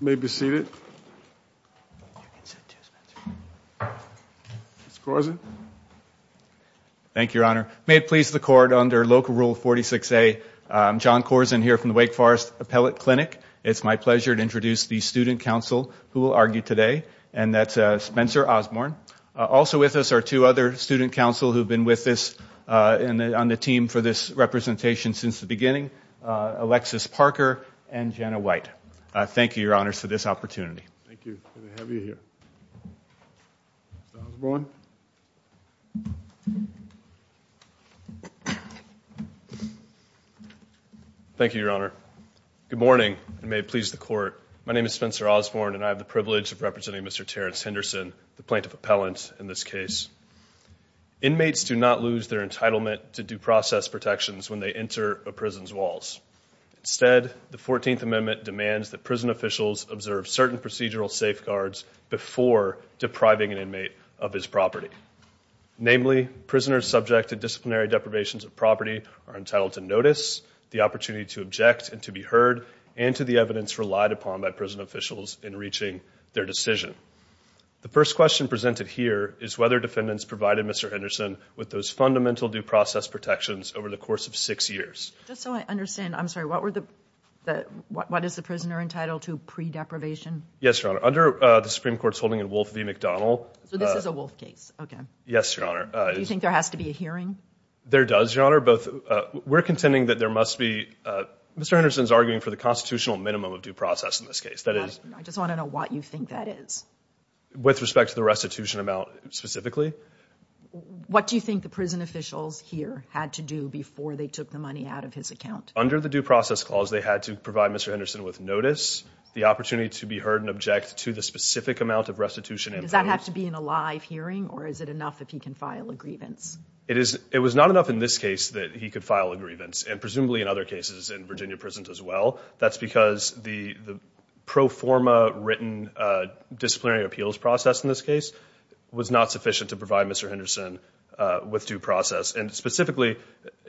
May be seated. Thank you, Your Honor. May it please the court under Local Rule 46A, John Corzine here from the Wake Forest Appellate Clinic. It's my pleasure to introduce the student counsel who will argue today and that's Spencer Osborne. Also with us are two other student counsel who have been with us on the team for this representation since the beginning, Alexis Parker and Jenna White. Thank you, Your Honor, for this opportunity. Thank you, Your Honor. Good morning and may it please the court. My name is Spencer Osborne and I have the privilege of representing Mr. Terrence Henderson, the Plaintiff Appellant in this case. Inmates do not lose their entitlement to due process protections on the prison's walls. Instead, the 14th Amendment demands that prison officials observe certain procedural safeguards before depriving an inmate of his property. Namely, prisoners subject to disciplinary deprivations of property are entitled to notice, the opportunity to object and to be heard, and to the evidence relied upon by prison officials in reaching their decision. The first question presented here is whether defendants provided Mr. Henderson with those fundamental due process protections over the course of his life. So I understand, I'm sorry, what were the, what is the prisoner entitled to pre-deprivation? Yes, Your Honor, under the Supreme Court's holding in Wolf v. McDonnell. So this is a Wolf case, okay. Yes, Your Honor. Do you think there has to be a hearing? There does, Your Honor, but we're contending that there must be, Mr. Henderson's arguing for the constitutional minimum of due process in this case, that is. I just want to know what you think that is. With respect to the restitution amount specifically. What do you think the prison officials here had to do before they took the money out of his account? Under the due process clause, they had to provide Mr. Henderson with notice, the opportunity to be heard and object to the specific amount of restitution. Does that have to be in a live hearing, or is it enough if he can file a grievance? It is, it was not enough in this case that he could file a grievance, and presumably in other cases in Virginia prisons as well. That's because the pro forma written disciplinary appeals process in this case was not sufficient to provide Mr. Henderson with due process. And specifically,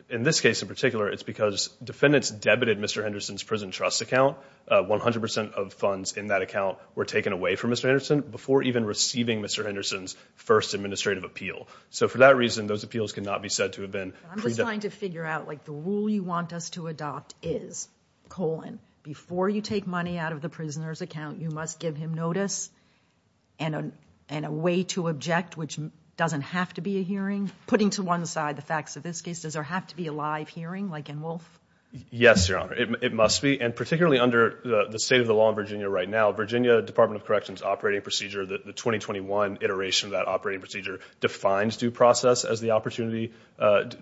in this case in particular, it's because defendants debited Mr. Henderson's prison trust account. 100% of funds in that account were taken away from Mr. Henderson before even receiving Mr. Henderson's first administrative appeal. So for that reason, those appeals cannot be said to have been. I'm just trying to figure out, like, the rule you want us to adopt is, colon, before you take money out of the prisoner's account, you must give him notice and a way to object, which doesn't have to be a hearing. Putting to one side the facts of this case, does there have to be a live hearing like in Wolfe? Yes, Your Honor, it must be. And particularly under the state of the law in Virginia right now, Virginia Department of Corrections operating procedure, the 2021 iteration of that operating procedure, defines due process as the opportunity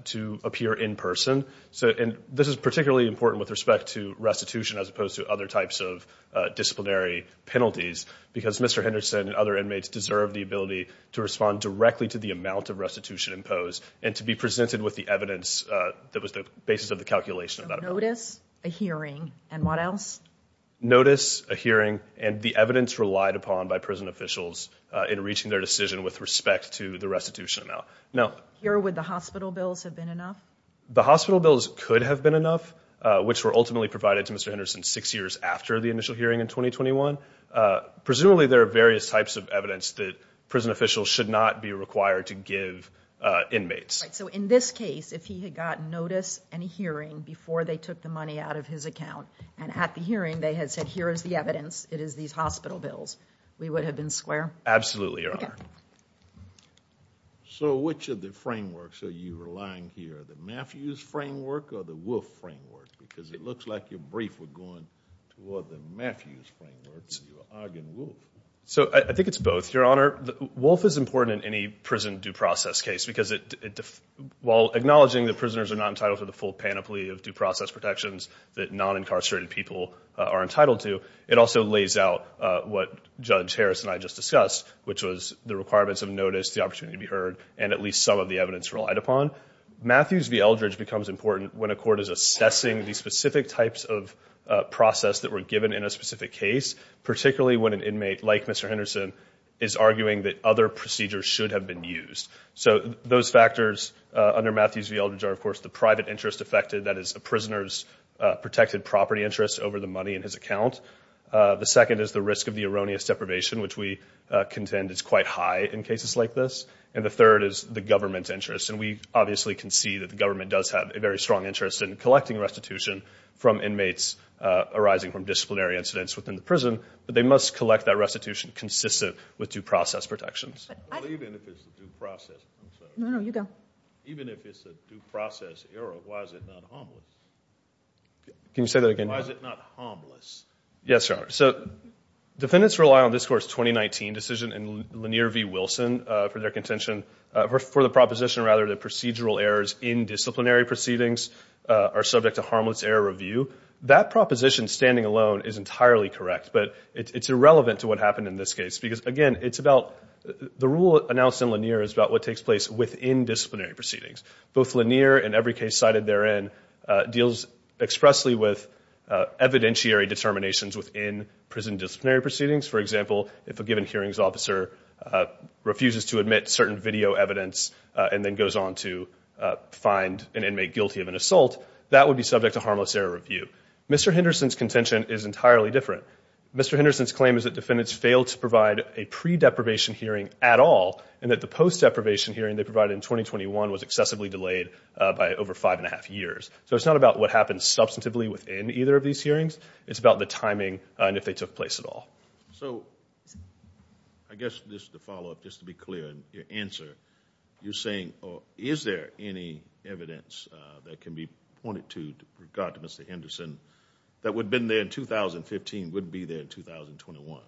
to appear in person. So, and this is particularly important with respect to restitution as opposed to other types of disciplinary penalties because Mr. Henderson and other inmates deserve the ability to respond directly to the amount of restitution imposed and to be presented with the evidence that was the basis of the calculation. So notice, a hearing, and what else? Notice, a hearing, and the evidence relied upon by prison officials in reaching their decision with respect to the restitution amount. Now, here would the hospital bills have been enough? The hospital bills could have been enough, which were ultimately provided to Mr. Henderson six years after the initial hearing in 2021. Presumably there are various types of evidence that prison officials should not be required to give inmates. So in this case, if he had gotten notice and hearing before they took the money out of his account and at the hearing they had said here is the evidence, it is these hospital bills, we would have been square? Absolutely, Your Honor. So which of the frameworks are you relying here, the Matthews framework or the Wolfe framework? Because it looks like your Matthews framework. So I think it's both, Your Honor. Wolfe is important in any prison due process case because it, while acknowledging that prisoners are not entitled to the full panoply of due process protections that non-incarcerated people are entitled to, it also lays out what Judge Harris and I just discussed, which was the requirements of notice, the opportunity to be heard, and at least some of the evidence relied upon. Matthews v. Eldridge becomes important when a court is assessing these specific types of process that were given in a specific case, particularly when an inmate like Mr. Henderson is arguing that other procedures should have been used. So those factors under Matthews v. Eldridge are, of course, the private interest affected, that is a prisoner's protected property interest over the money in his account. The second is the risk of the erroneous deprivation, which we contend is quite high in cases like this. And the third is the government's interest, and we obviously can see that the government does have a very strong interest in collecting restitution from inmates within the prison, but they must collect that restitution consistent with due process protections. Even if it's a due process error, why is it not harmless? Can you say that again? Why is it not harmless? Yes, Your Honor. So defendants rely on this court's 2019 decision in Lanier v. Wilson for their contention, for the proposition, rather, that procedural errors in disciplinary proceedings are subject to harmless error review. That proposition, standing alone, is entirely correct, but it's irrelevant to what happened in this case because, again, the rule announced in Lanier is about what takes place within disciplinary proceedings. Both Lanier and every case cited therein deals expressly with evidentiary determinations within prison disciplinary proceedings. For example, if a given hearings officer refuses to admit certain video evidence and then goes on to find an inmate guilty of an assault, that would be subject to harmless error review. Mr. Henderson's contention is entirely different. Mr. Henderson's claim is that defendants failed to provide a pre-deprivation hearing at all and that the post- deprivation hearing they provided in 2021 was excessively delayed by over five and a half years. So it's not about what happened substantively within either of these hearings, it's about the timing and if they took place at all. So, I guess, just to follow up, just to be clear in your answer, you're saying, is there any evidence that can be pointed to with regard to Mr. Henderson that would have been there in 2015 would be there in 2021?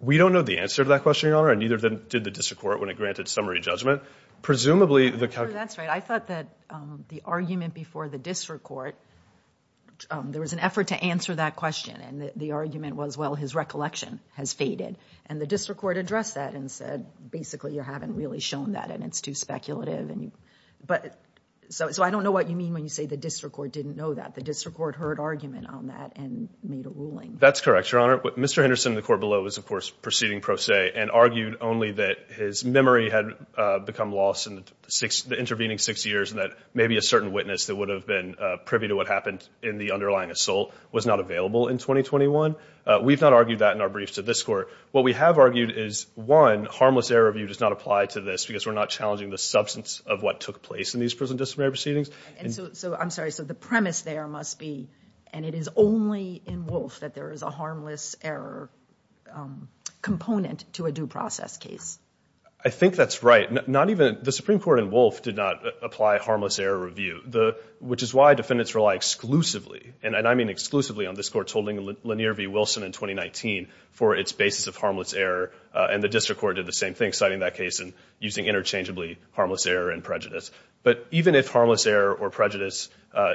We don't know the answer to that question, Your Honor, and neither did the district court when it granted summary judgment. Presumably the That's right. I thought that the argument before the district court, there was an effort to answer that question and the argument was, well, his recollection has faded and the district court addressed that and said, basically, you haven't really shown that and it's too speculative. So, I don't know what you mean when you say the district court didn't know that. The district court heard argument on that and made a ruling. That's correct, Your Honor. Mr. Henderson in the court below was, of course, proceeding pro se and argued only that his memory had become lost in the intervening six years and that maybe a certain witness that would have been privy to what happened in the underlying assault was not available in 2021. We've not argued that in our briefs to this court. What we have argued is, one, harmless error review does not apply to this because we're not challenging the substance of what took place in these prison disciplinary proceedings. I'm sorry, so the premise there must be, and it is only in Wolf that there is a harmless error component to a due process case. I think that's right. The Supreme Court in Wolf did not apply harmless error review, which is why defendants rely exclusively, and I error and the district court did the same thing, citing that case and using interchangeably harmless error and prejudice. But even if harmless error or prejudice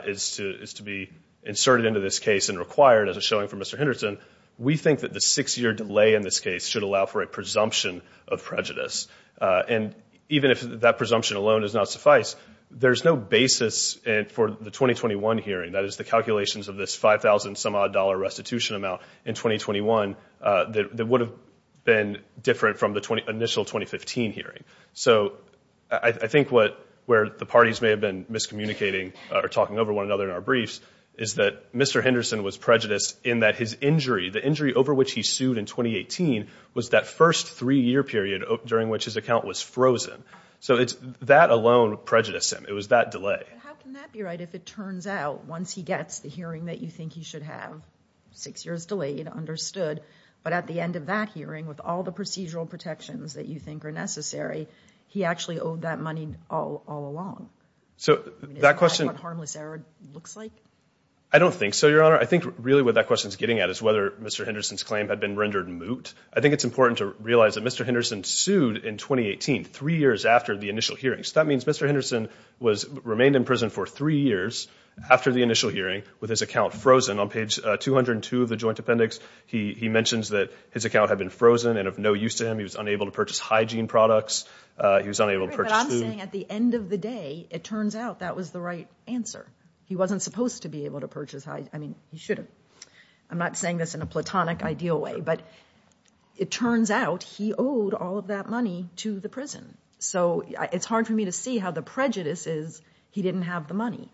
is to be inserted into this case and required as a showing for Mr. Henderson, we think that the six-year delay in this case should allow for a presumption of prejudice. And even if that presumption alone does not suffice, there's no basis for the 2021 hearing, that is, the calculations of this odd-dollar restitution amount in 2021 that would have been different from the initial 2015 hearing. So I think where the parties may have been miscommunicating or talking over one another in our briefs is that Mr. Henderson was prejudiced in that his injury, the injury over which he sued in 2018, was that first three-year period during which his account was frozen. So that alone prejudiced him. It was that delay. How can that be right if it turns out once he gets the hearing that you think he should have, six years delayed, understood, but at the end of that hearing with all the procedural protections that you think are necessary, he actually owed that money all along? So that question... Is that what harmless error looks like? I don't think so, Your Honor. I think really what that question is getting at is whether Mr. Henderson's claim had been rendered moot. I think it's important to realize that Mr. Henderson sued in 2018, three years after the initial hearing. So that means Mr. Henderson was remained in the initial hearing with his account frozen. On page 202 of the Joint Appendix, he mentions that his account had been frozen and of no use to him. He was unable to purchase hygiene products. He was unable to purchase food. But I'm saying at the end of the day it turns out that was the right answer. He wasn't supposed to be able to purchase hygiene. I mean, he should have. I'm not saying this in a platonic ideal way, but it turns out he owed all of that money to the prison. So it's hard for me to see how the prejudice is he didn't have the money.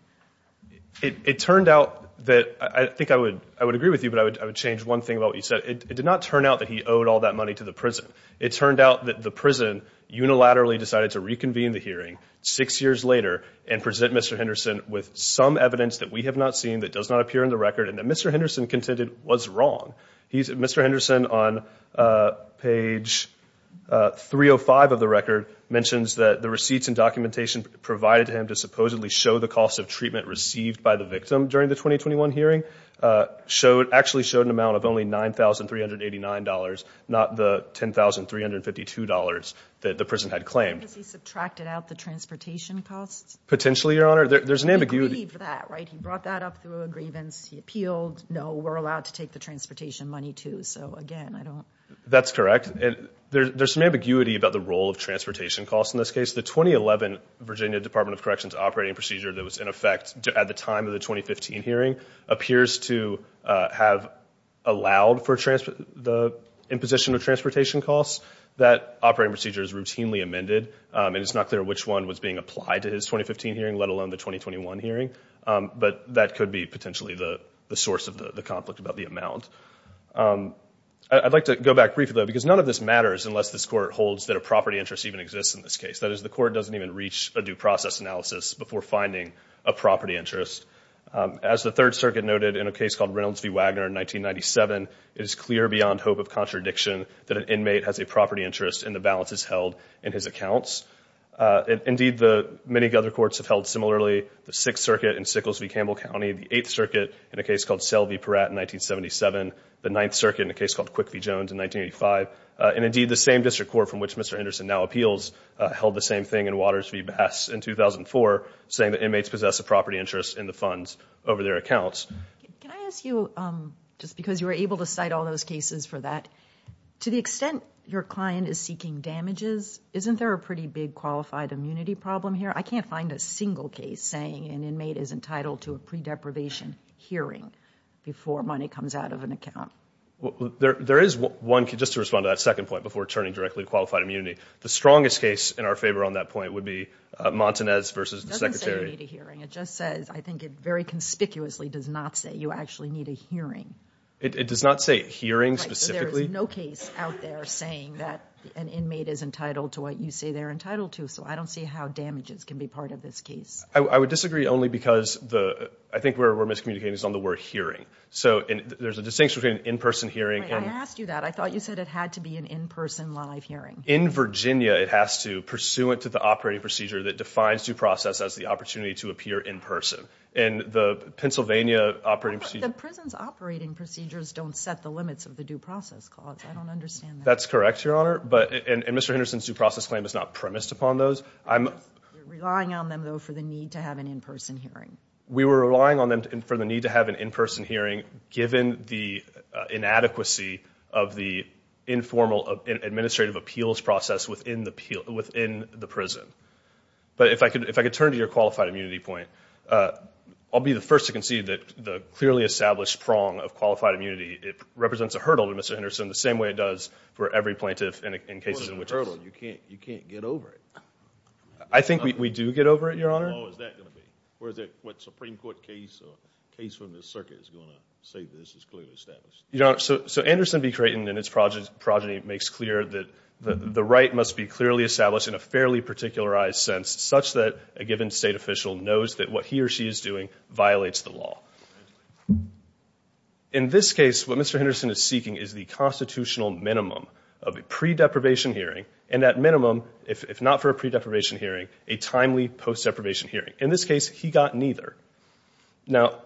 It turned out that... I think I would agree with you, but I would change one thing about what you said. It did not turn out that he owed all that money to the prison. It turned out that the prison unilaterally decided to reconvene the hearing six years later and present Mr. Henderson with some evidence that we have not seen, that does not appear in the record, and that Mr. Henderson contended was wrong. Mr. Henderson, on page 305 of the record, mentions that the receipts and documentation provided to him to supposedly show the cost of treatment received by the victim during the 2021 hearing actually showed an amount of only $9,389, not the $10,352 that the prison had claimed. Has he subtracted out the transportation costs? Potentially, Your Honor. There's an ambiguity... He agreed to that, right? He brought that up through a grievance. He appealed. No, we're allowed to take the That's correct. There's some ambiguity about the role of transportation costs in this case. The 2011 Virginia Department of Corrections operating procedure that was in effect at the time of the 2015 hearing appears to have allowed for the imposition of transportation costs. That operating procedure is routinely amended, and it's not clear which one was being applied to his 2015 hearing, let alone the 2021 hearing, but that could be potentially the source of the conflict about the amount. I'd like to go back briefly, though, because none of this matters unless this court holds that a property interest even exists in this case. That is, the court doesn't even reach a due process analysis before finding a property interest. As the Third Circuit noted in a case called Reynolds v. Wagner in 1997, it is clear beyond hope of contradiction that an inmate has a property interest, and the balance is held in his accounts. Indeed, many other courts have held similarly. The Sixth Circuit in Sickles v. Campbell County, the Eighth Circuit in a case called Selvey v. Peratt in 1977, the Ninth Circuit in a case called Quick v. Jones in 1985, and indeed the same district court from which Mr. Henderson now appeals held the same thing in Waters v. Bass in 2004, saying that inmates possess a property interest in the funds over their accounts. Can I ask you, just because you were able to cite all those cases for that, to the extent your client is seeking damages, isn't there a pretty big qualified immunity problem here? I can't find a single case saying an inmate is entitled to a predeprivation hearing before money comes out of an account. There is one, just to respond to that second point before turning directly to qualified immunity, the strongest case in our favor on that point would be Montanez v. the Secretary. It doesn't say you need a hearing, it just says, I think it very conspicuously does not say you actually need a hearing. It does not say hearing specifically? There is no case out there saying that an inmate is entitled to what you say they're entitled to, so I don't see how damages can be part of this case. I would disagree only because I think where we're miscommunicating is on the word hearing. So there's a distinction between in-person hearing and... I asked you that. I thought you said it had to be an in-person live hearing. In Virginia, it has to, pursuant to the operating procedure that defines due process as the opportunity to appear in person. In the Pennsylvania operating procedure... The prison's operating procedures don't set the limits of the due process clause. I don't understand that. That's correct, Your Honor, and Mr. Henderson's due process claim is not premised upon those. You're relying on them, though, for the need to have an in-person hearing. We were relying on them for the need to have an in-person hearing given the inadequacy of the informal administrative appeals process within the prison. But if I could turn to your qualified immunity point, I'll be the first to concede that the clearly established prong of qualified immunity, it represents a hurdle to Mr. Henderson the same way it does for every plaintiff in cases in which... It's a hurdle. You can't get over it. I think we do get over it, Your Honor. What Supreme Court case or case from the circuit is going to say this is clearly established? Your Honor, so Anderson v. Creighton and its progeny makes clear that the right must be clearly established in a fairly particularized sense, such that a given state official knows that what he or she is doing violates the law. In this case, what Mr. Henderson is seeking is the constitutional minimum of a pre- if not for a pre-deprivation hearing, a timely post-deprivation hearing. In this case, he got neither. Now,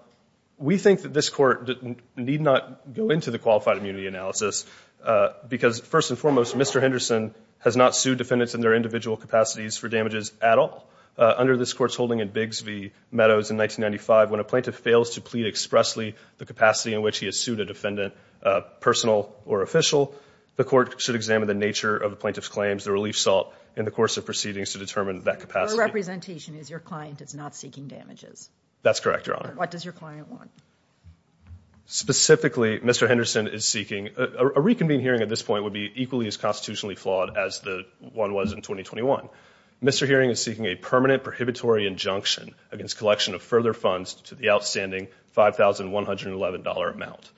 we think that this court need not go into the qualified immunity analysis because, first and foremost, Mr. Henderson has not sued defendants in their individual capacities for damages at all. Under this court's holding in Biggs v. Meadows in 1995, when a plaintiff fails to plead expressly the capacity in which he has sued a defendant, personal or official, the court should examine the nature of the plaintiff's claims, the relief sought in the course of proceedings to determine that capacity. Your representation is your client is not seeking damages. That's correct, Your Honor. What does your client want? Specifically, Mr. Henderson is seeking a reconvene hearing at this point would be equally as constitutionally flawed as the one was in 2021. Mr. Heering is seeking a permanent prohibitory injunction against collection of further funds to the outstanding $5,111 amount.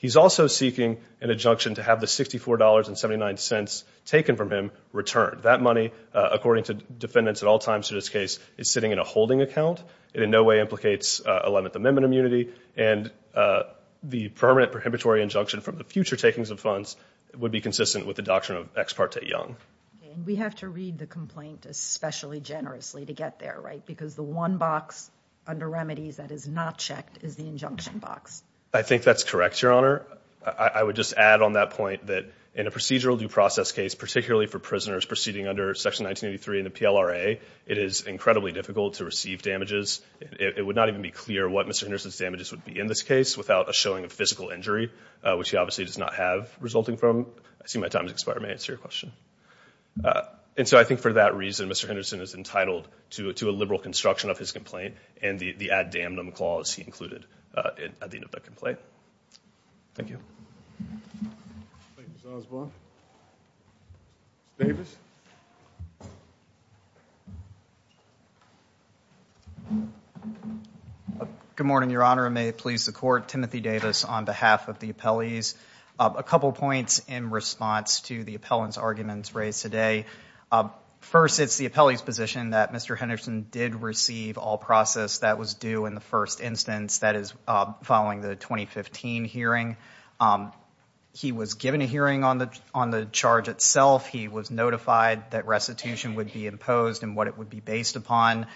He's also seeking an injunction to have the $64.79 taken from him returned. That money, according to defendants at all times in this case, is sitting in a holding account. It in no way implicates Eleventh Amendment immunity, and the permanent prohibitory injunction from the future takings of funds would be consistent with the doctrine of Ex parte Young. We have to read the complaint especially generously to get there, right? Because the one box under remedies that is not checked is the injunction box. I would just add on that point that in a procedural due process case, particularly for prisoners proceeding under Section 1983 in the PLRA, it is incredibly difficult to receive damages. It would not even be clear what Mr. Henderson's damages would be in this case without a showing of physical injury, which he obviously does not have resulting from. I see my time has expired. May I answer your question? And so I think for that reason, Mr. Henderson is entitled to a liberal construction of his complaint and the add damn them clause he included at the complaint. Thank you. Good morning, Your Honor. I may please the court. Timothy Davis on behalf of the appellees. A couple points in response to the appellant's arguments raised today. First, it's the appellee's position that Mr. Henderson did receive all process that was due in the first instance that is following the 2015 hearing. He was given a hearing on the on the charge itself. He was notified that restitution would be imposed and what it would be based upon.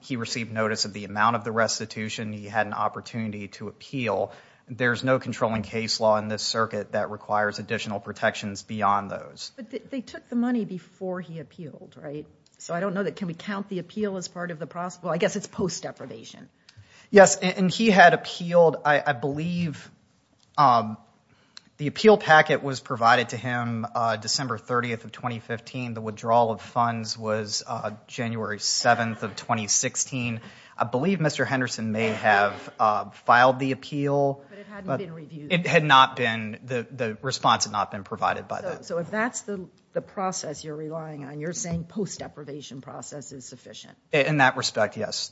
He received notice of the amount of the restitution. He had an opportunity to appeal. There's no controlling case law in this circuit that requires additional protections beyond those. But they took the money before he appealed, right? So I don't know can we count the appeal as part of the process? Well, I guess it's post deprivation. Yes, and he had appealed, I believe, the appeal packet was provided to him December 30th of 2015. The withdrawal of funds was January 7th of 2016. I believe Mr. Henderson may have filed the appeal. It had not been, the the response had not been provided by that. So if that's the process you're saying the deprivation process is sufficient? In that respect, yes.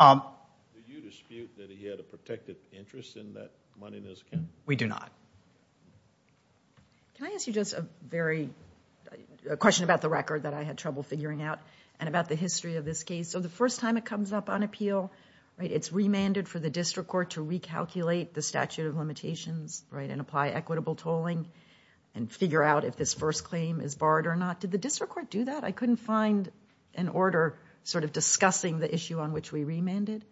Do you dispute that he had a protected interest in that money in his account? We do not. Can I ask you just a very, a question about the record that I had trouble figuring out and about the history of this case. So the first time it comes up on appeal, right, it's remanded for the district court to recalculate the statute of limitations, right, and apply equitable tolling and figure out if this first claim is barred or not. Did the district court do that? I couldn't find an order sort of discussing the issue on which we remanded.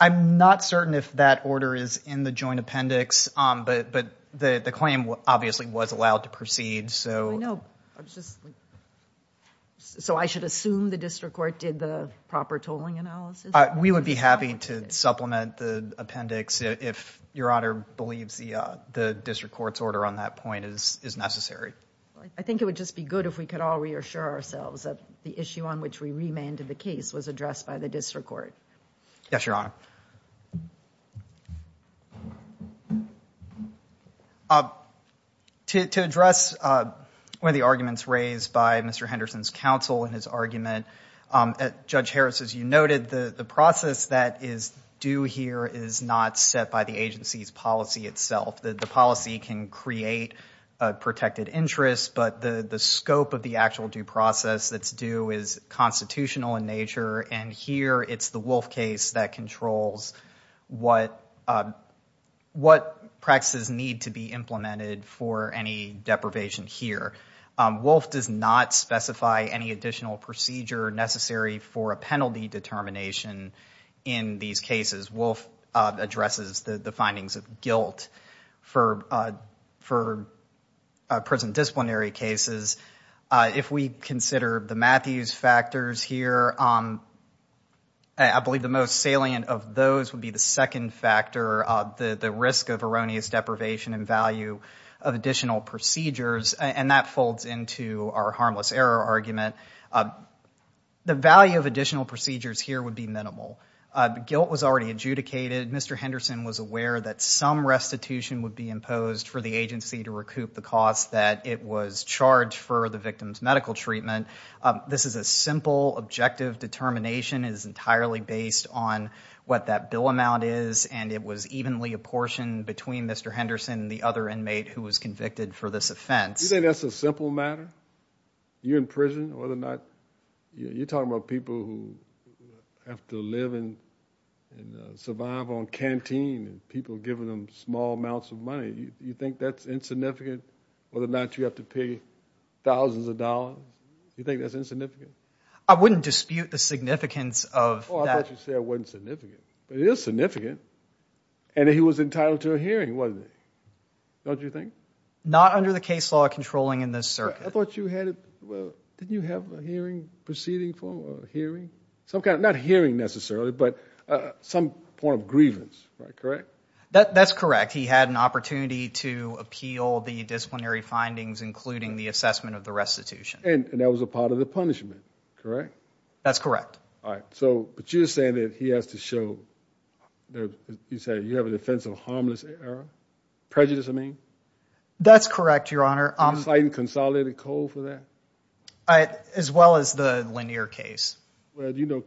I'm not certain if that order is in the joint appendix, but the claim obviously was allowed to proceed. So I should assume the district court did the proper tolling analysis? We would be happy to supplement the appendix if your honor believes the I think it would just be good if we could all reassure ourselves that the issue on which we remanded the case was addressed by the district court. Yes, your honor. To address one of the arguments raised by Mr. Henderson's counsel and his argument, Judge Harris, as you noted, the process that is due here is not set by the agency's policy itself. The policy can create a protected interest, but the the scope of the actual due process that's due is constitutional in nature, and here it's the Wolf case that controls what practices need to be implemented for any deprivation here. Wolf does not specify any additional procedure necessary for a penalty determination in these cases. Wolf addresses the findings of guilt for present disciplinary cases. If we consider the Matthews factors here, I believe the most salient of those would be the second factor, the risk of erroneous deprivation and value of additional procedures, and that folds into our harmless error argument. The value of additional procedures here would be minimal. Guilt was already adjudicated. Mr. Henderson was aware that some restitution would be imposed for the agency to recoup the cost that it was charged for the victim's medical treatment. This is a simple objective determination. It is entirely based on what that bill amount is, and it was evenly apportioned between Mr. Henderson and the other inmate who was convicted for this offense. You think that's a simple matter? You're in prison. You're talking about people who have to live and survive on canteen and people giving them small amounts of money. You think that's insignificant, whether or not you have to pay thousands of dollars? You think that's insignificant? I wouldn't dispute the significance of that. I thought you said it wasn't significant, but it is significant, and he was entitled to a hearing, wasn't he? Don't you think? Not under the case law controlling in this circuit. I thought you had, well, didn't you have a hearing proceeding for a hearing? Not hearing necessarily, but some point of grievance, right? Correct? That's correct. He had an opportunity to appeal the disciplinary findings, including the assessment of the restitution. And that was a part of the punishment, correct? That's correct. All right, so but you're saying that he has to show, you said you have a defense of harmless error? Prejudice, I mean? That's correct, Your Honor. A slight and consolidated code for that? As well as the Lanier case? Well, you know,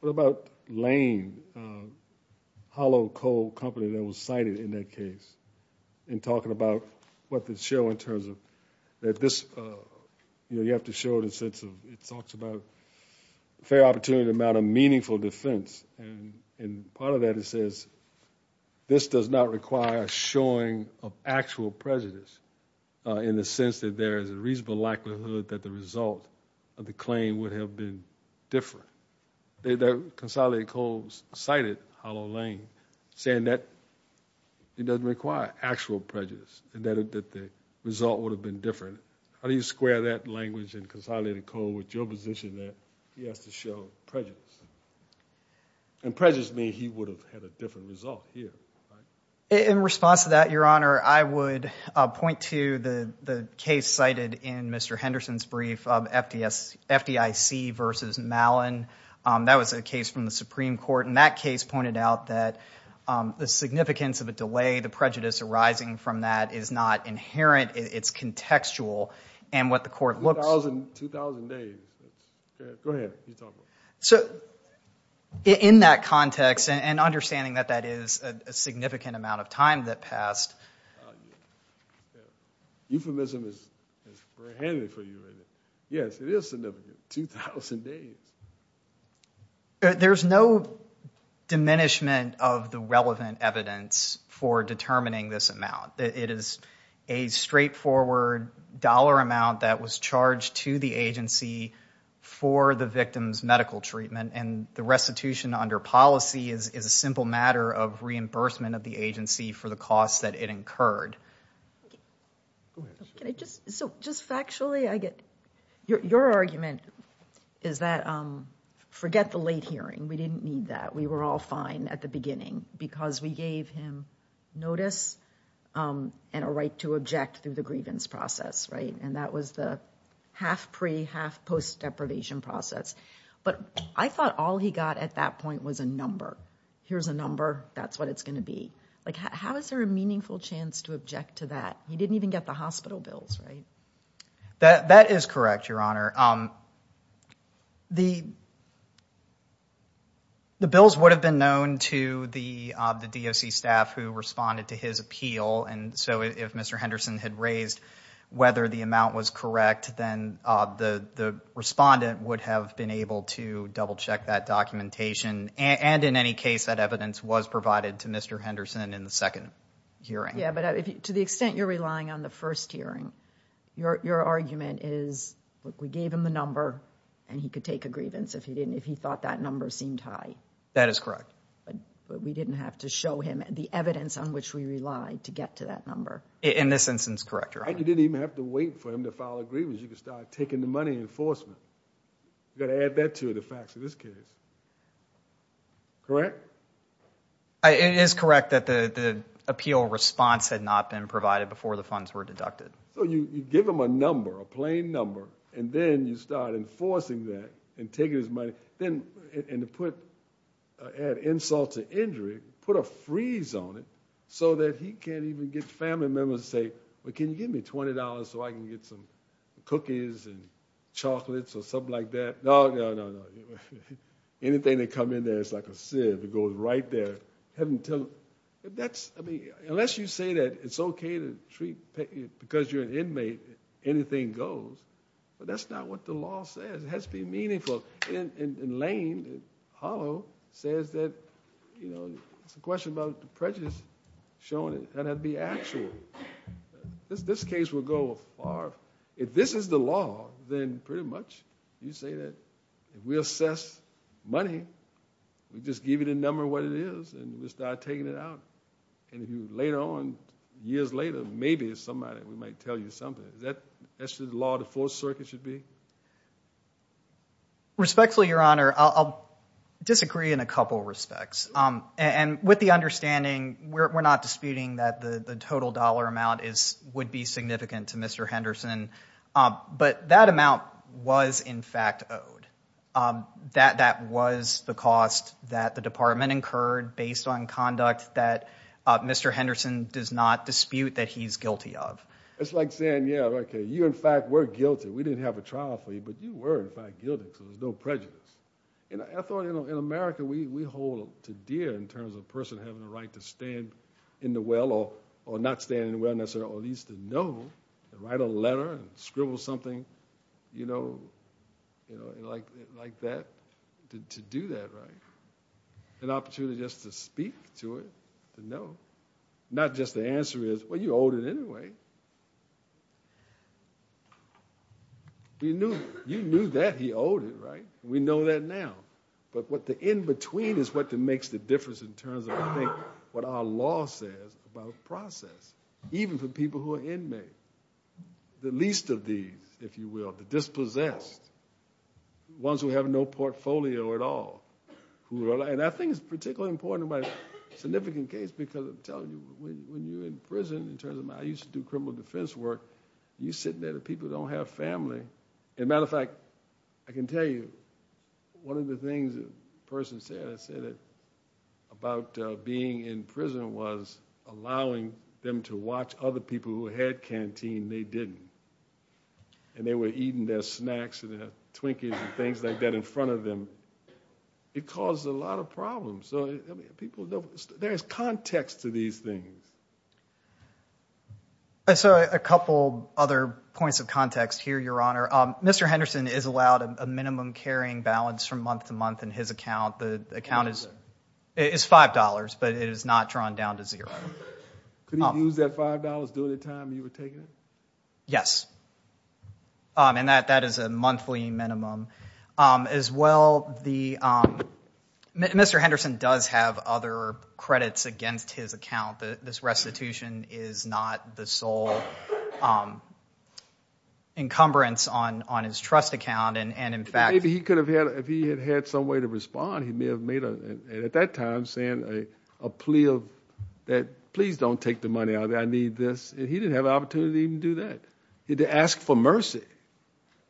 what about Lane, a hollow coal company that was cited in that case, and talking about what the show in terms of that this, you know, you have to show it in a sense of it talks about a fair opportunity to mount a meaningful defense, and part of that it says this does not require a showing of actual prejudice, in the sense that there is a reasonable likelihood that the claim would have been different. The consolidated code cited Hollow Lane, saying that it doesn't require actual prejudice, and that the result would have been different. How do you square that language and consolidated code with your position that he has to show prejudice? And prejudice means he would have had a different result here, right? In response to that, Your Honor, I would point to the case cited in Mr. Henderson's brief, FDIC versus Malin. That was a case from the Supreme Court, and that case pointed out that the significance of a delay, the prejudice arising from that is not inherent, it's contextual, and what the court looks... 2,000 days. Go ahead. So in that context, and significant amount of time that passed. Euphemism is very handy for you. Yes, it is significant. 2,000 days. There's no diminishment of the relevant evidence for determining this amount. It is a straightforward dollar amount that was charged to the agency for the victim's medical treatment, and the restitution under policy is a simple matter of reimbursement of the agency for the costs that it incurred. So just factually, I get your argument is that forget the late hearing. We didn't need that. We were all fine at the beginning because we gave him notice and a right to object through the grievance process, right? And that was the half pre, half post deprivation process. But I thought all he got at that point was a number. Here's a number, that's what it's gonna be. Like how is there a meaningful chance to object to that? He didn't even get the hospital bills, right? That is correct, Your Honor. The bills would have been known to the DOC staff who responded to his appeal, and so if Mr. Henderson had raised whether the amount was correct, then the respondent would have been able to double-check that documentation, and in any case that evidence was provided to Mr. Henderson in the second hearing. Yeah, but to the extent you're relying on the first hearing, your argument is, look, we gave him the number and he could take a grievance if he didn't, if he thought that number seemed high. That is correct. But we didn't have to show him the evidence on which we relied to get to that number. In this instance, correct, Your Honor. You didn't even have to wait for him to file a grievance. You could start taking the money in enforcement. Gotta add that to the facts of this case. Correct? It is correct that the appeal response had not been provided before the funds were deducted. So you give him a number, a plain number, and then you start enforcing that and taking his money, and to add insult to injury, put a freeze on it so that he can't even get family members to say, well can you give me $20 so I can get some cookies and chocolates or something like that? No, no, no. Anything that come in there, it's like a sieve. It goes right there. Unless you say that it's okay to treat, because you're an inmate, anything goes. But that's not what the law says. It has to be meaningful. And Lane, Hollow, says that, you know, it's a question about the prejudice showing it. That had to be actual. This case will go far. If this is the law, then pretty much you say that if we assess money, we just give you the number what it is, and we start taking it out. And if you later on, years later, maybe somebody we might tell you something. That's the law the Fourth Circuit should be? Respectfully, Your Honor, I'll disagree in a couple respects. And with the we're not disputing that the total dollar amount would be significant to Mr. Henderson, but that amount was in fact owed. That was the cost that the department incurred based on conduct that Mr. Henderson does not dispute that he's guilty of. It's like saying, yeah, okay, you in fact were guilty. We didn't have a trial for you, but you were in fact guilty, so there's no prejudice. I thought, you know, in America we hold to dear in terms of a person having the opportunity to stand in the well, or not stand in the well necessarily, or at least to know, to write a letter, scribble something, you know, like that, to do that, right? An opportunity just to speak to it, to know. Not just the answer is, well, you owed it anyway. You knew that he owed it, right? We know that now. But what the difference in terms of, I think, what our law says about process, even for people who are inmates, the least of these, if you will, the dispossessed, ones who have no portfolio at all. And I think it's particularly important in my significant case because I'm telling you, when you're in prison, in terms of, I used to do criminal defense work, you're sitting there, the people don't have family. As a matter of fact, I can tell you, one of the things a person said, I think, about being in prison was allowing them to watch other people who had canteen, they didn't. And they were eating their snacks and their Twinkies and things like that in front of them. It caused a lot of problems. So people, there's context to these things. So a couple other points of context here, Your Honor. Mr. Henderson is allowed a minimum carrying balance from month to month in his account. The account is $5, but it is not drawn down to zero. Could he use that $5 during the time you were taking it? Yes. And that is a monthly minimum. As well, Mr. Henderson does have other credits against his account. This restitution is not the sole encumbrance on his trust account. And in fact... If he had had some way to respond, he may have made, at that time, saying a plea of that, please don't take the money out of there, I need this. And he didn't have an opportunity to even do that. He had to ask for mercy.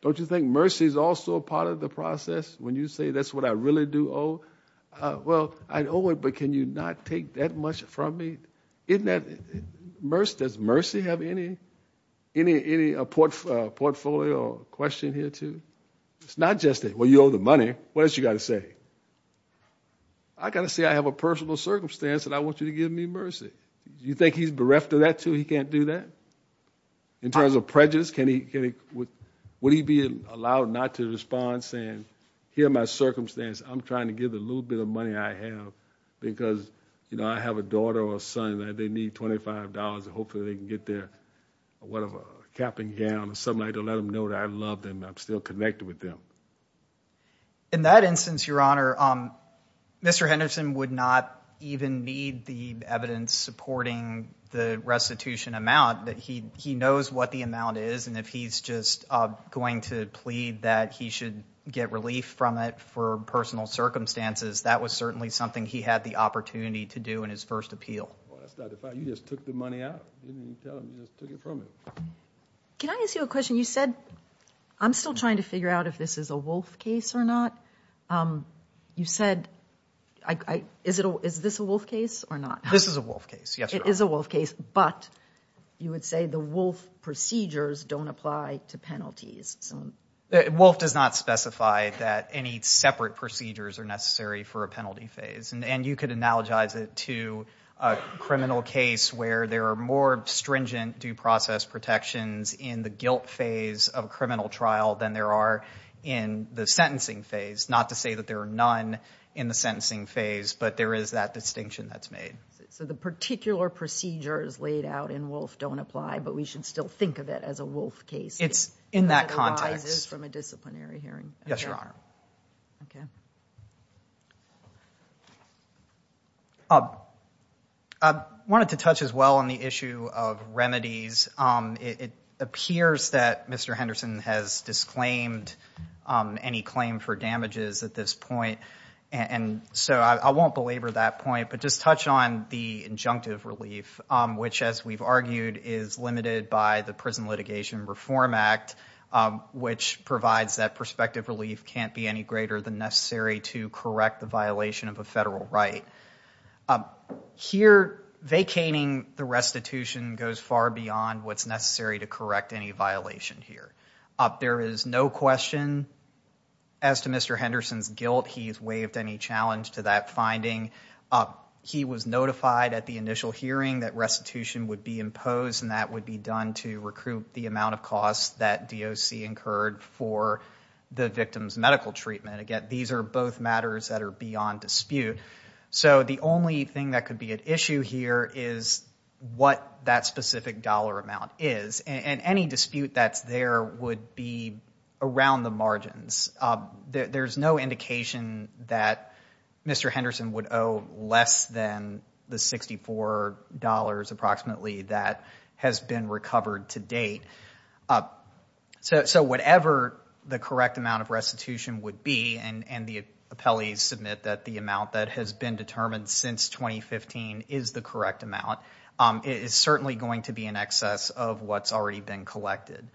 Don't you think mercy is also a part of the process? When you say, that's what I really do owe. Well, I owe it, but can you not take that much from me? Doesn't mercy have any portfolio question here, too? It's not just that, well, you owe the money. What else you got to say? I got to say, I have a personal circumstance and I want you to give me mercy. Do you think he's bereft of that, too? He can't do that? In terms of prejudice, would he be allowed not to respond, saying, here my circumstance, I'm trying to give the little bit of money I have because, you know, I have a daughter or a son that they need $25 and hopefully they can get their whatever, a cap and gown or something like that, to let them know that I love them, I'm still connected with them. In that instance, your honor, Mr. Henderson would not even need the evidence supporting the restitution amount, that he knows what the amount is and if he's just going to plead that he should get relief from it for personal circumstances, that was certainly something he had the opportunity to do in his first appeal. You just took the from it. Can I ask you a question? You said, I'm still trying to figure out if this is a Wolfe case or not. You said, is this a Wolfe case or not? This is a Wolfe case, yes. It is a Wolfe case, but you would say the Wolfe procedures don't apply to penalties. Wolfe does not specify that any separate procedures are necessary for a penalty phase and you could analogize it to a stringent due process protections in the guilt phase of a criminal trial than there are in the sentencing phase. Not to say that there are none in the sentencing phase, but there is that distinction that's made. So the particular procedures laid out in Wolfe don't apply, but we should still think of it as a Wolfe case? It's in that context. I wanted to touch as well on the issue of remedies. It appears that Mr. Henderson has disclaimed any claim for damages at this point and so I won't belabor that point, but just touch on the injunctive relief, which as we've argued is limited by the Prison Litigation Reform Act, which provides that prospective relief can't be any greater than necessary to correct the violation of a federal right. Here, vacating the restitution goes far beyond what's necessary to correct any violation here. There is no question as to Mr. Henderson's guilt he's waived any challenge to that finding. He was notified at the initial hearing that restitution would be imposed and that would be done to recruit the amount of costs that DOC incurred for the victim's medical treatment. Again, these are both matters that are beyond dispute, so the only thing that could be at issue here is what that specific dollar amount is and any dispute that's there would be around the margins. There's no indication that the $64 approximately that has been recovered to date. So whatever the correct amount of restitution would be, and the appellees submit that the amount that has been determined since 2015 is the correct amount, it is certainly going to be in excess of what's already been collected.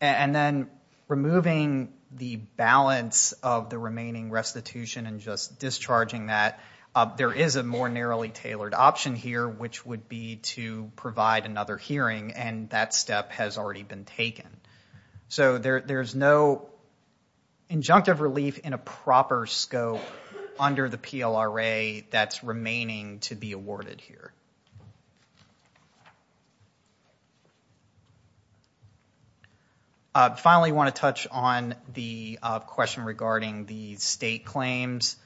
And then removing the balance of the remaining restitution and just discharging that, there is a more narrowly tailored option here which would be to provide another hearing and that step has already been taken. So there's no injunctive relief in a proper scope under the PLRA that's remaining to be awarded here. Finally, I want to touch on the question regarding the state claims.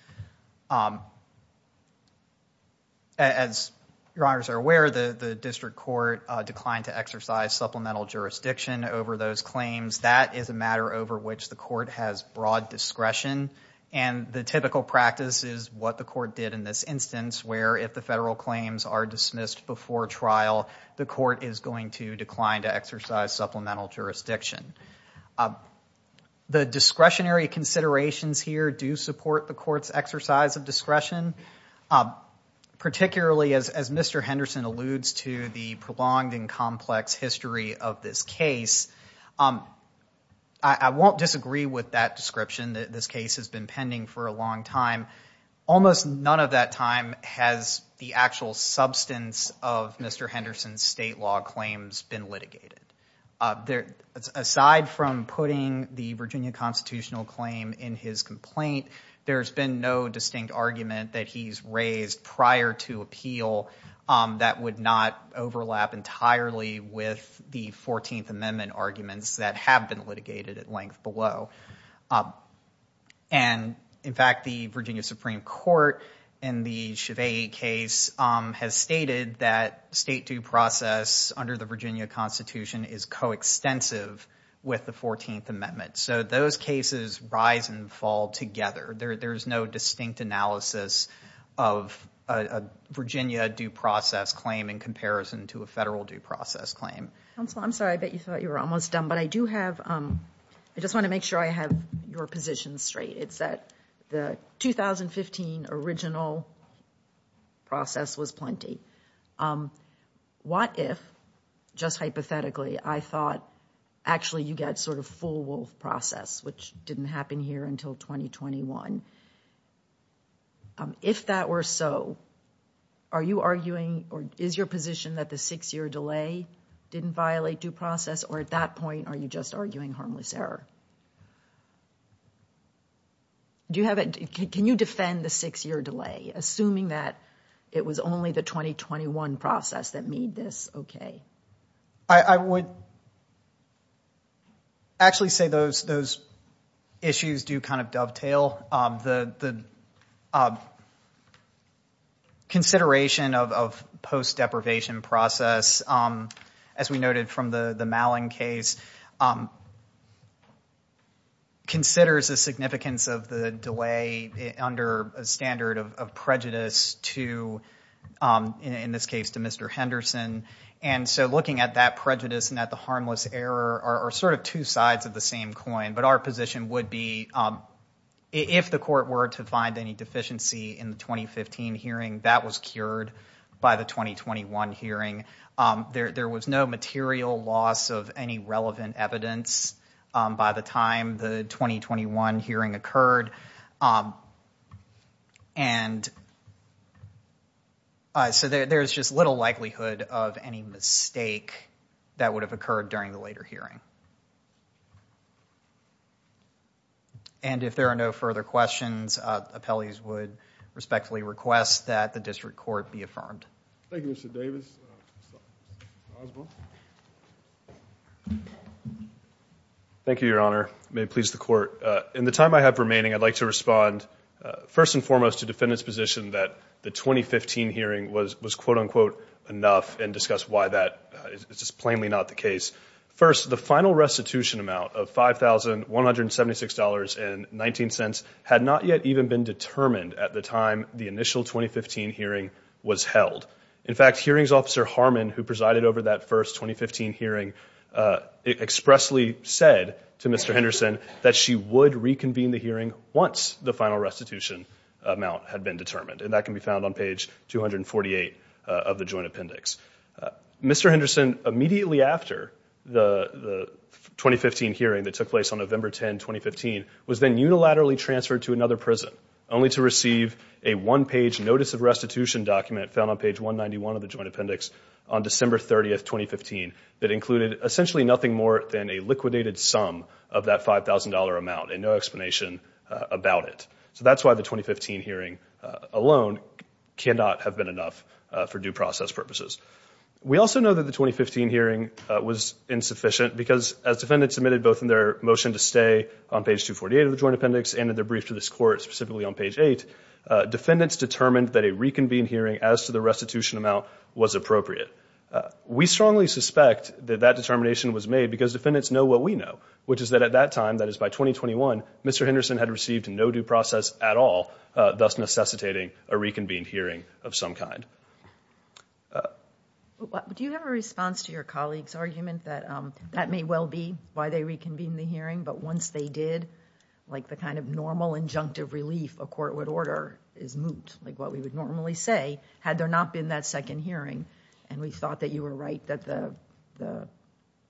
As your honors are aware, the district court declined to exercise supplemental jurisdiction over those claims. That is a matter over which the court has broad discretion and the typical practice is what the court did in this instance where if the federal claims are dismissed before trial, the court is going to decline to exercise supplemental jurisdiction. The discretionary considerations here do support the court's exercise of discretion, particularly as Mr. Henderson alludes to the prolonged and complex history of this case. I won't disagree with that description that this time has the actual substance of Mr. Henderson's state law claims been litigated. Aside from putting the Virginia constitutional claim in his complaint, there's been no distinct argument that he's raised prior to appeal that would not overlap entirely with the 14th Amendment arguments that have been litigated at length below. And in fact the Virginia Supreme Court in the Chivay case has stated that state due process under the Virginia Constitution is coextensive with the 14th Amendment. So those cases rise and fall together. There's no distinct analysis of a Virginia due process claim in comparison to a federal due process claim. Counsel, I'm sorry I bet you thought you were almost done, but I do have, I just want to make sure I have your position straight. It's that the 2015 original process was plenty. What if, just hypothetically, I thought actually you get sort of full wolf process which didn't happen here until 2021. If that were so, are you arguing or is your position that the six-year delay didn't violate due process or at that point are you just arguing harmless error? Do you have it, can you defend the six-year delay assuming that it was only the 2021 process that made this okay? I would actually say those those issues do kind of dovetail. The consideration of due process considers the significance of the delay under a standard of prejudice to, in this case to Mr. Henderson, and so looking at that prejudice and at the harmless error are sort of two sides of the same coin. But our position would be if the court were to find any deficiency in the 2015 hearing, that was cured by the 2021 hearing. There was no material loss of any relevant evidence by the time the 2021 hearing occurred, and so there's just little likelihood of any mistake that would have occurred during the later hearing. And if there are no further questions, appellees would respectfully request that the district court be affirmed. Thank you, Mr. Davis. Thank you, Your Honor. May it please the court. In the time I have remaining, I'd like to respond first and foremost to defendant's position that the 2015 hearing was was quote-unquote enough and discuss why that is just plainly not the case. First, the final restitution amount of five thousand one hundred seventy six dollars and nineteen cents had not yet even been held. In fact, hearings officer Harmon, who presided over that first 2015 hearing, expressly said to Mr. Henderson that she would reconvene the hearing once the final restitution amount had been determined, and that can be found on page 248 of the joint appendix. Mr. Henderson, immediately after the 2015 hearing that took place on November 10, 2015, was then unilaterally transferred to another prison, only to receive a one-page notice of restitution document found on page 191 of the joint appendix on December 30th, 2015, that included essentially nothing more than a liquidated sum of that $5,000 amount and no explanation about it. So that's why the 2015 hearing alone cannot have been enough for due process purposes. We also know that the 2015 hearing was insufficient because, as defendants admitted both in their motion to stay on this court, specifically on page 8, defendants determined that a reconvened hearing as to the restitution amount was appropriate. We strongly suspect that that determination was made because defendants know what we know, which is that at that time, that is by 2021, Mr. Henderson had received no due process at all, thus necessitating a reconvened hearing of some kind. Do you have a response to your colleague's argument that that may well be why they reconvened the hearing, but once they did, like the kind of normal injunctive relief a court would order is moot, like what we would normally say, had there not been that second hearing, and we thought that you were right that the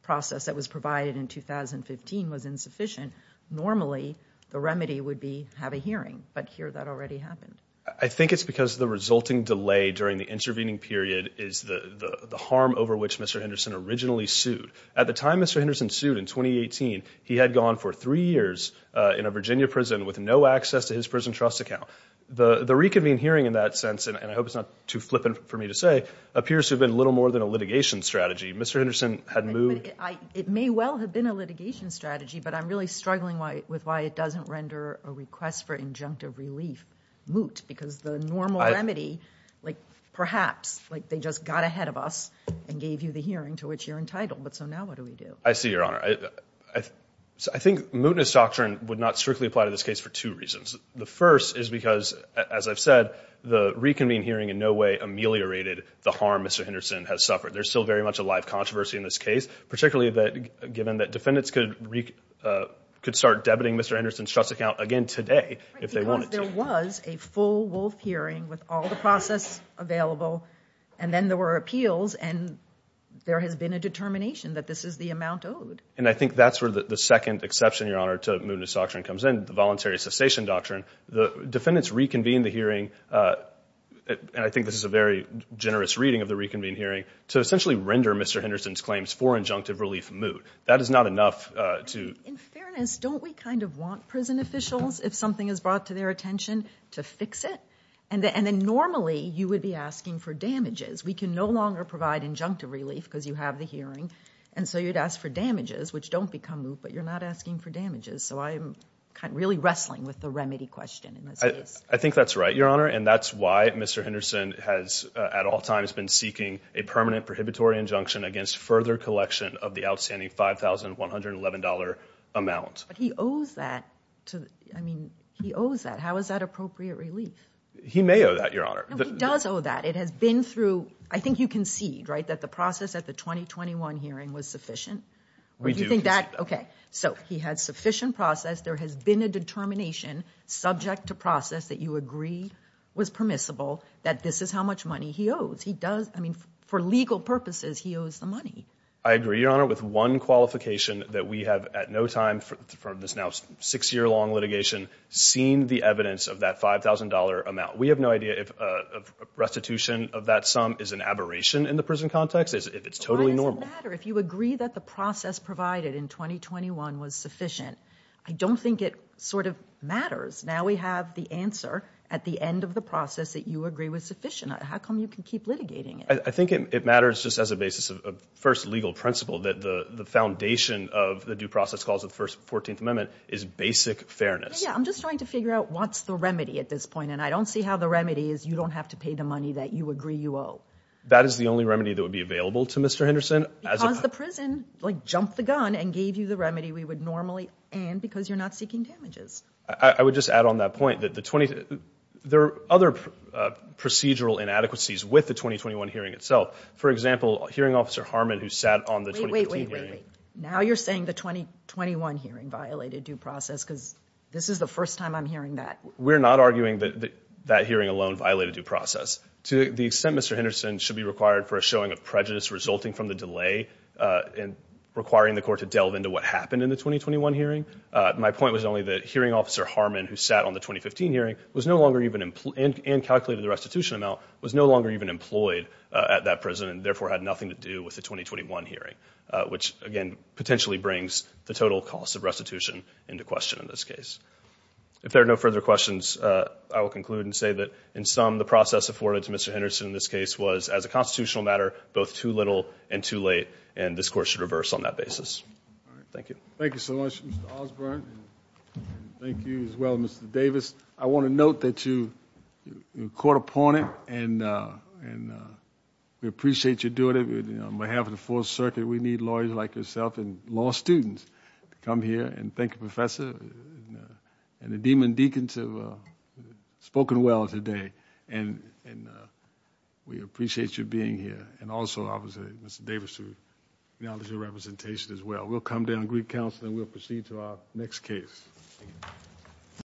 process that was provided in 2015 was insufficient, normally the remedy would be have a hearing, but here that already happened. I think it's because the resulting delay during the intervening period is the harm over which Mr. Henderson originally sued. At the time Mr. Henderson sued, in 2018, he had gone for three years in a Virginia prison with no access to his prison trust account. The reconvened hearing in that sense, and I hope it's not too flippant for me to say, appears to have been little more than a litigation strategy. Mr. Henderson had moved... It may well have been a litigation strategy, but I'm really struggling with why it doesn't render a request for injunctive relief moot, because the normal remedy, like perhaps, like they just got ahead of us and gave you the hearing to which you're entitled, but so now what do we do? I see, Your Honor. I think mootness doctrine would not strictly apply to this case for two reasons. The first is because, as I've said, the reconvened hearing in no way ameliorated the harm Mr. Henderson has suffered. There's still very much a live controversy in this case, particularly that given that defendants could start debiting Mr. Henderson's trust account again today if they wanted to. Because there was a full Wolf hearing with all the process available, and then there were appeals, and there has been a determination that this is the amount owed. And I think that's where the second exception, Your Honor, to mootness doctrine comes in, the voluntary cessation doctrine. The defendants reconvened the hearing, and I think this is a very generous reading of the reconvened hearing, to essentially render Mr. Henderson's claims for injunctive relief moot. That is not enough to... In fairness, don't we kind of want prison officials, if something is brought to their attention, to fix it? And then normally you would be asking for damages. We can no longer provide injunctive relief because you have the hearing. And so you'd ask for damages, which don't become moot, but you're not asking for damages. So I'm kind of really wrestling with the remedy question in this case. I think that's right, Your Honor, and that's why Mr. Henderson has at all times been seeking a permanent prohibitory injunction against further collection of the outstanding $5,111 amount. But he owes that. I mean, he owes that. How is that appropriate relief? He may owe that, Your Honor. No, he does owe that. It has been through... I think you concede, right, that the process at the 2021 hearing was sufficient? We do concede that. Okay, so he had sufficient process. There has been a determination, subject to process, that you agree was permissible, that this is how much money he owes. He does, I mean, for legal purposes, he owes the money. I agree, Your Honor, with one qualification that we have at no time from this now six-year-long litigation seen the evidence of that $5,000 amount. We have no idea if a restitution of that sum is an aberration in the prison context, if it's totally normal. Why does it matter if you agree that the process provided in 2021 was sufficient? I don't think it sort of matters. Now we have the answer at the end of the process that you agree was sufficient. How come you can keep litigating it? I think it matters just as a basis of first legal principle that the foundation of the due process clause of the First Fourteenth Amendment is basic fairness. Yeah, I'm just trying to figure out what's the remedy at this point, and I don't see how the remedy is you don't have to pay the money that you agree you owe. That is the only remedy that would be available to Mr. Henderson? Because the prison, like, jumped the gun and gave you the remedy we would normally, and because you're not seeking damages. I would just add on that point that the 20, there are other procedural inadequacies with the 2021 hearing itself. For example, hearing officer Harmon, who sat on the... Wait, wait, wait, now you're saying the 2021 hearing violated due process because this is the first time I'm hearing that. We're not arguing that that hearing alone violated due process. To the extent Mr. Henderson should be required for a showing of prejudice resulting from the delay and requiring the court to delve into what happened in the 2021 hearing. My point was only that hearing officer Harmon, who sat on the 2015 hearing, was no longer even, and calculated the restitution amount, was no longer even employed at that prison and therefore had nothing to do with the 2021 hearing, which again potentially brings the total cost of this case. If there are no further questions, I will conclude and say that in sum, the process afforded to Mr. Henderson in this case was, as a constitutional matter, both too little and too late and this court should reverse on that basis. Thank you. Thank you so much, Mr. Osborne. Thank you as well, Mr. Davis. I want to note that you were caught upon it and we appreciate you doing it. On behalf of the Fourth Circuit, we need lawyers like yourself and law students to come here and thank you, Professor, and the Demon Deacons have spoken well today and we appreciate you being here and also obviously, Mr. Davis, to acknowledge your representation as well. We'll come down to Greek Council and we'll proceed to our next case.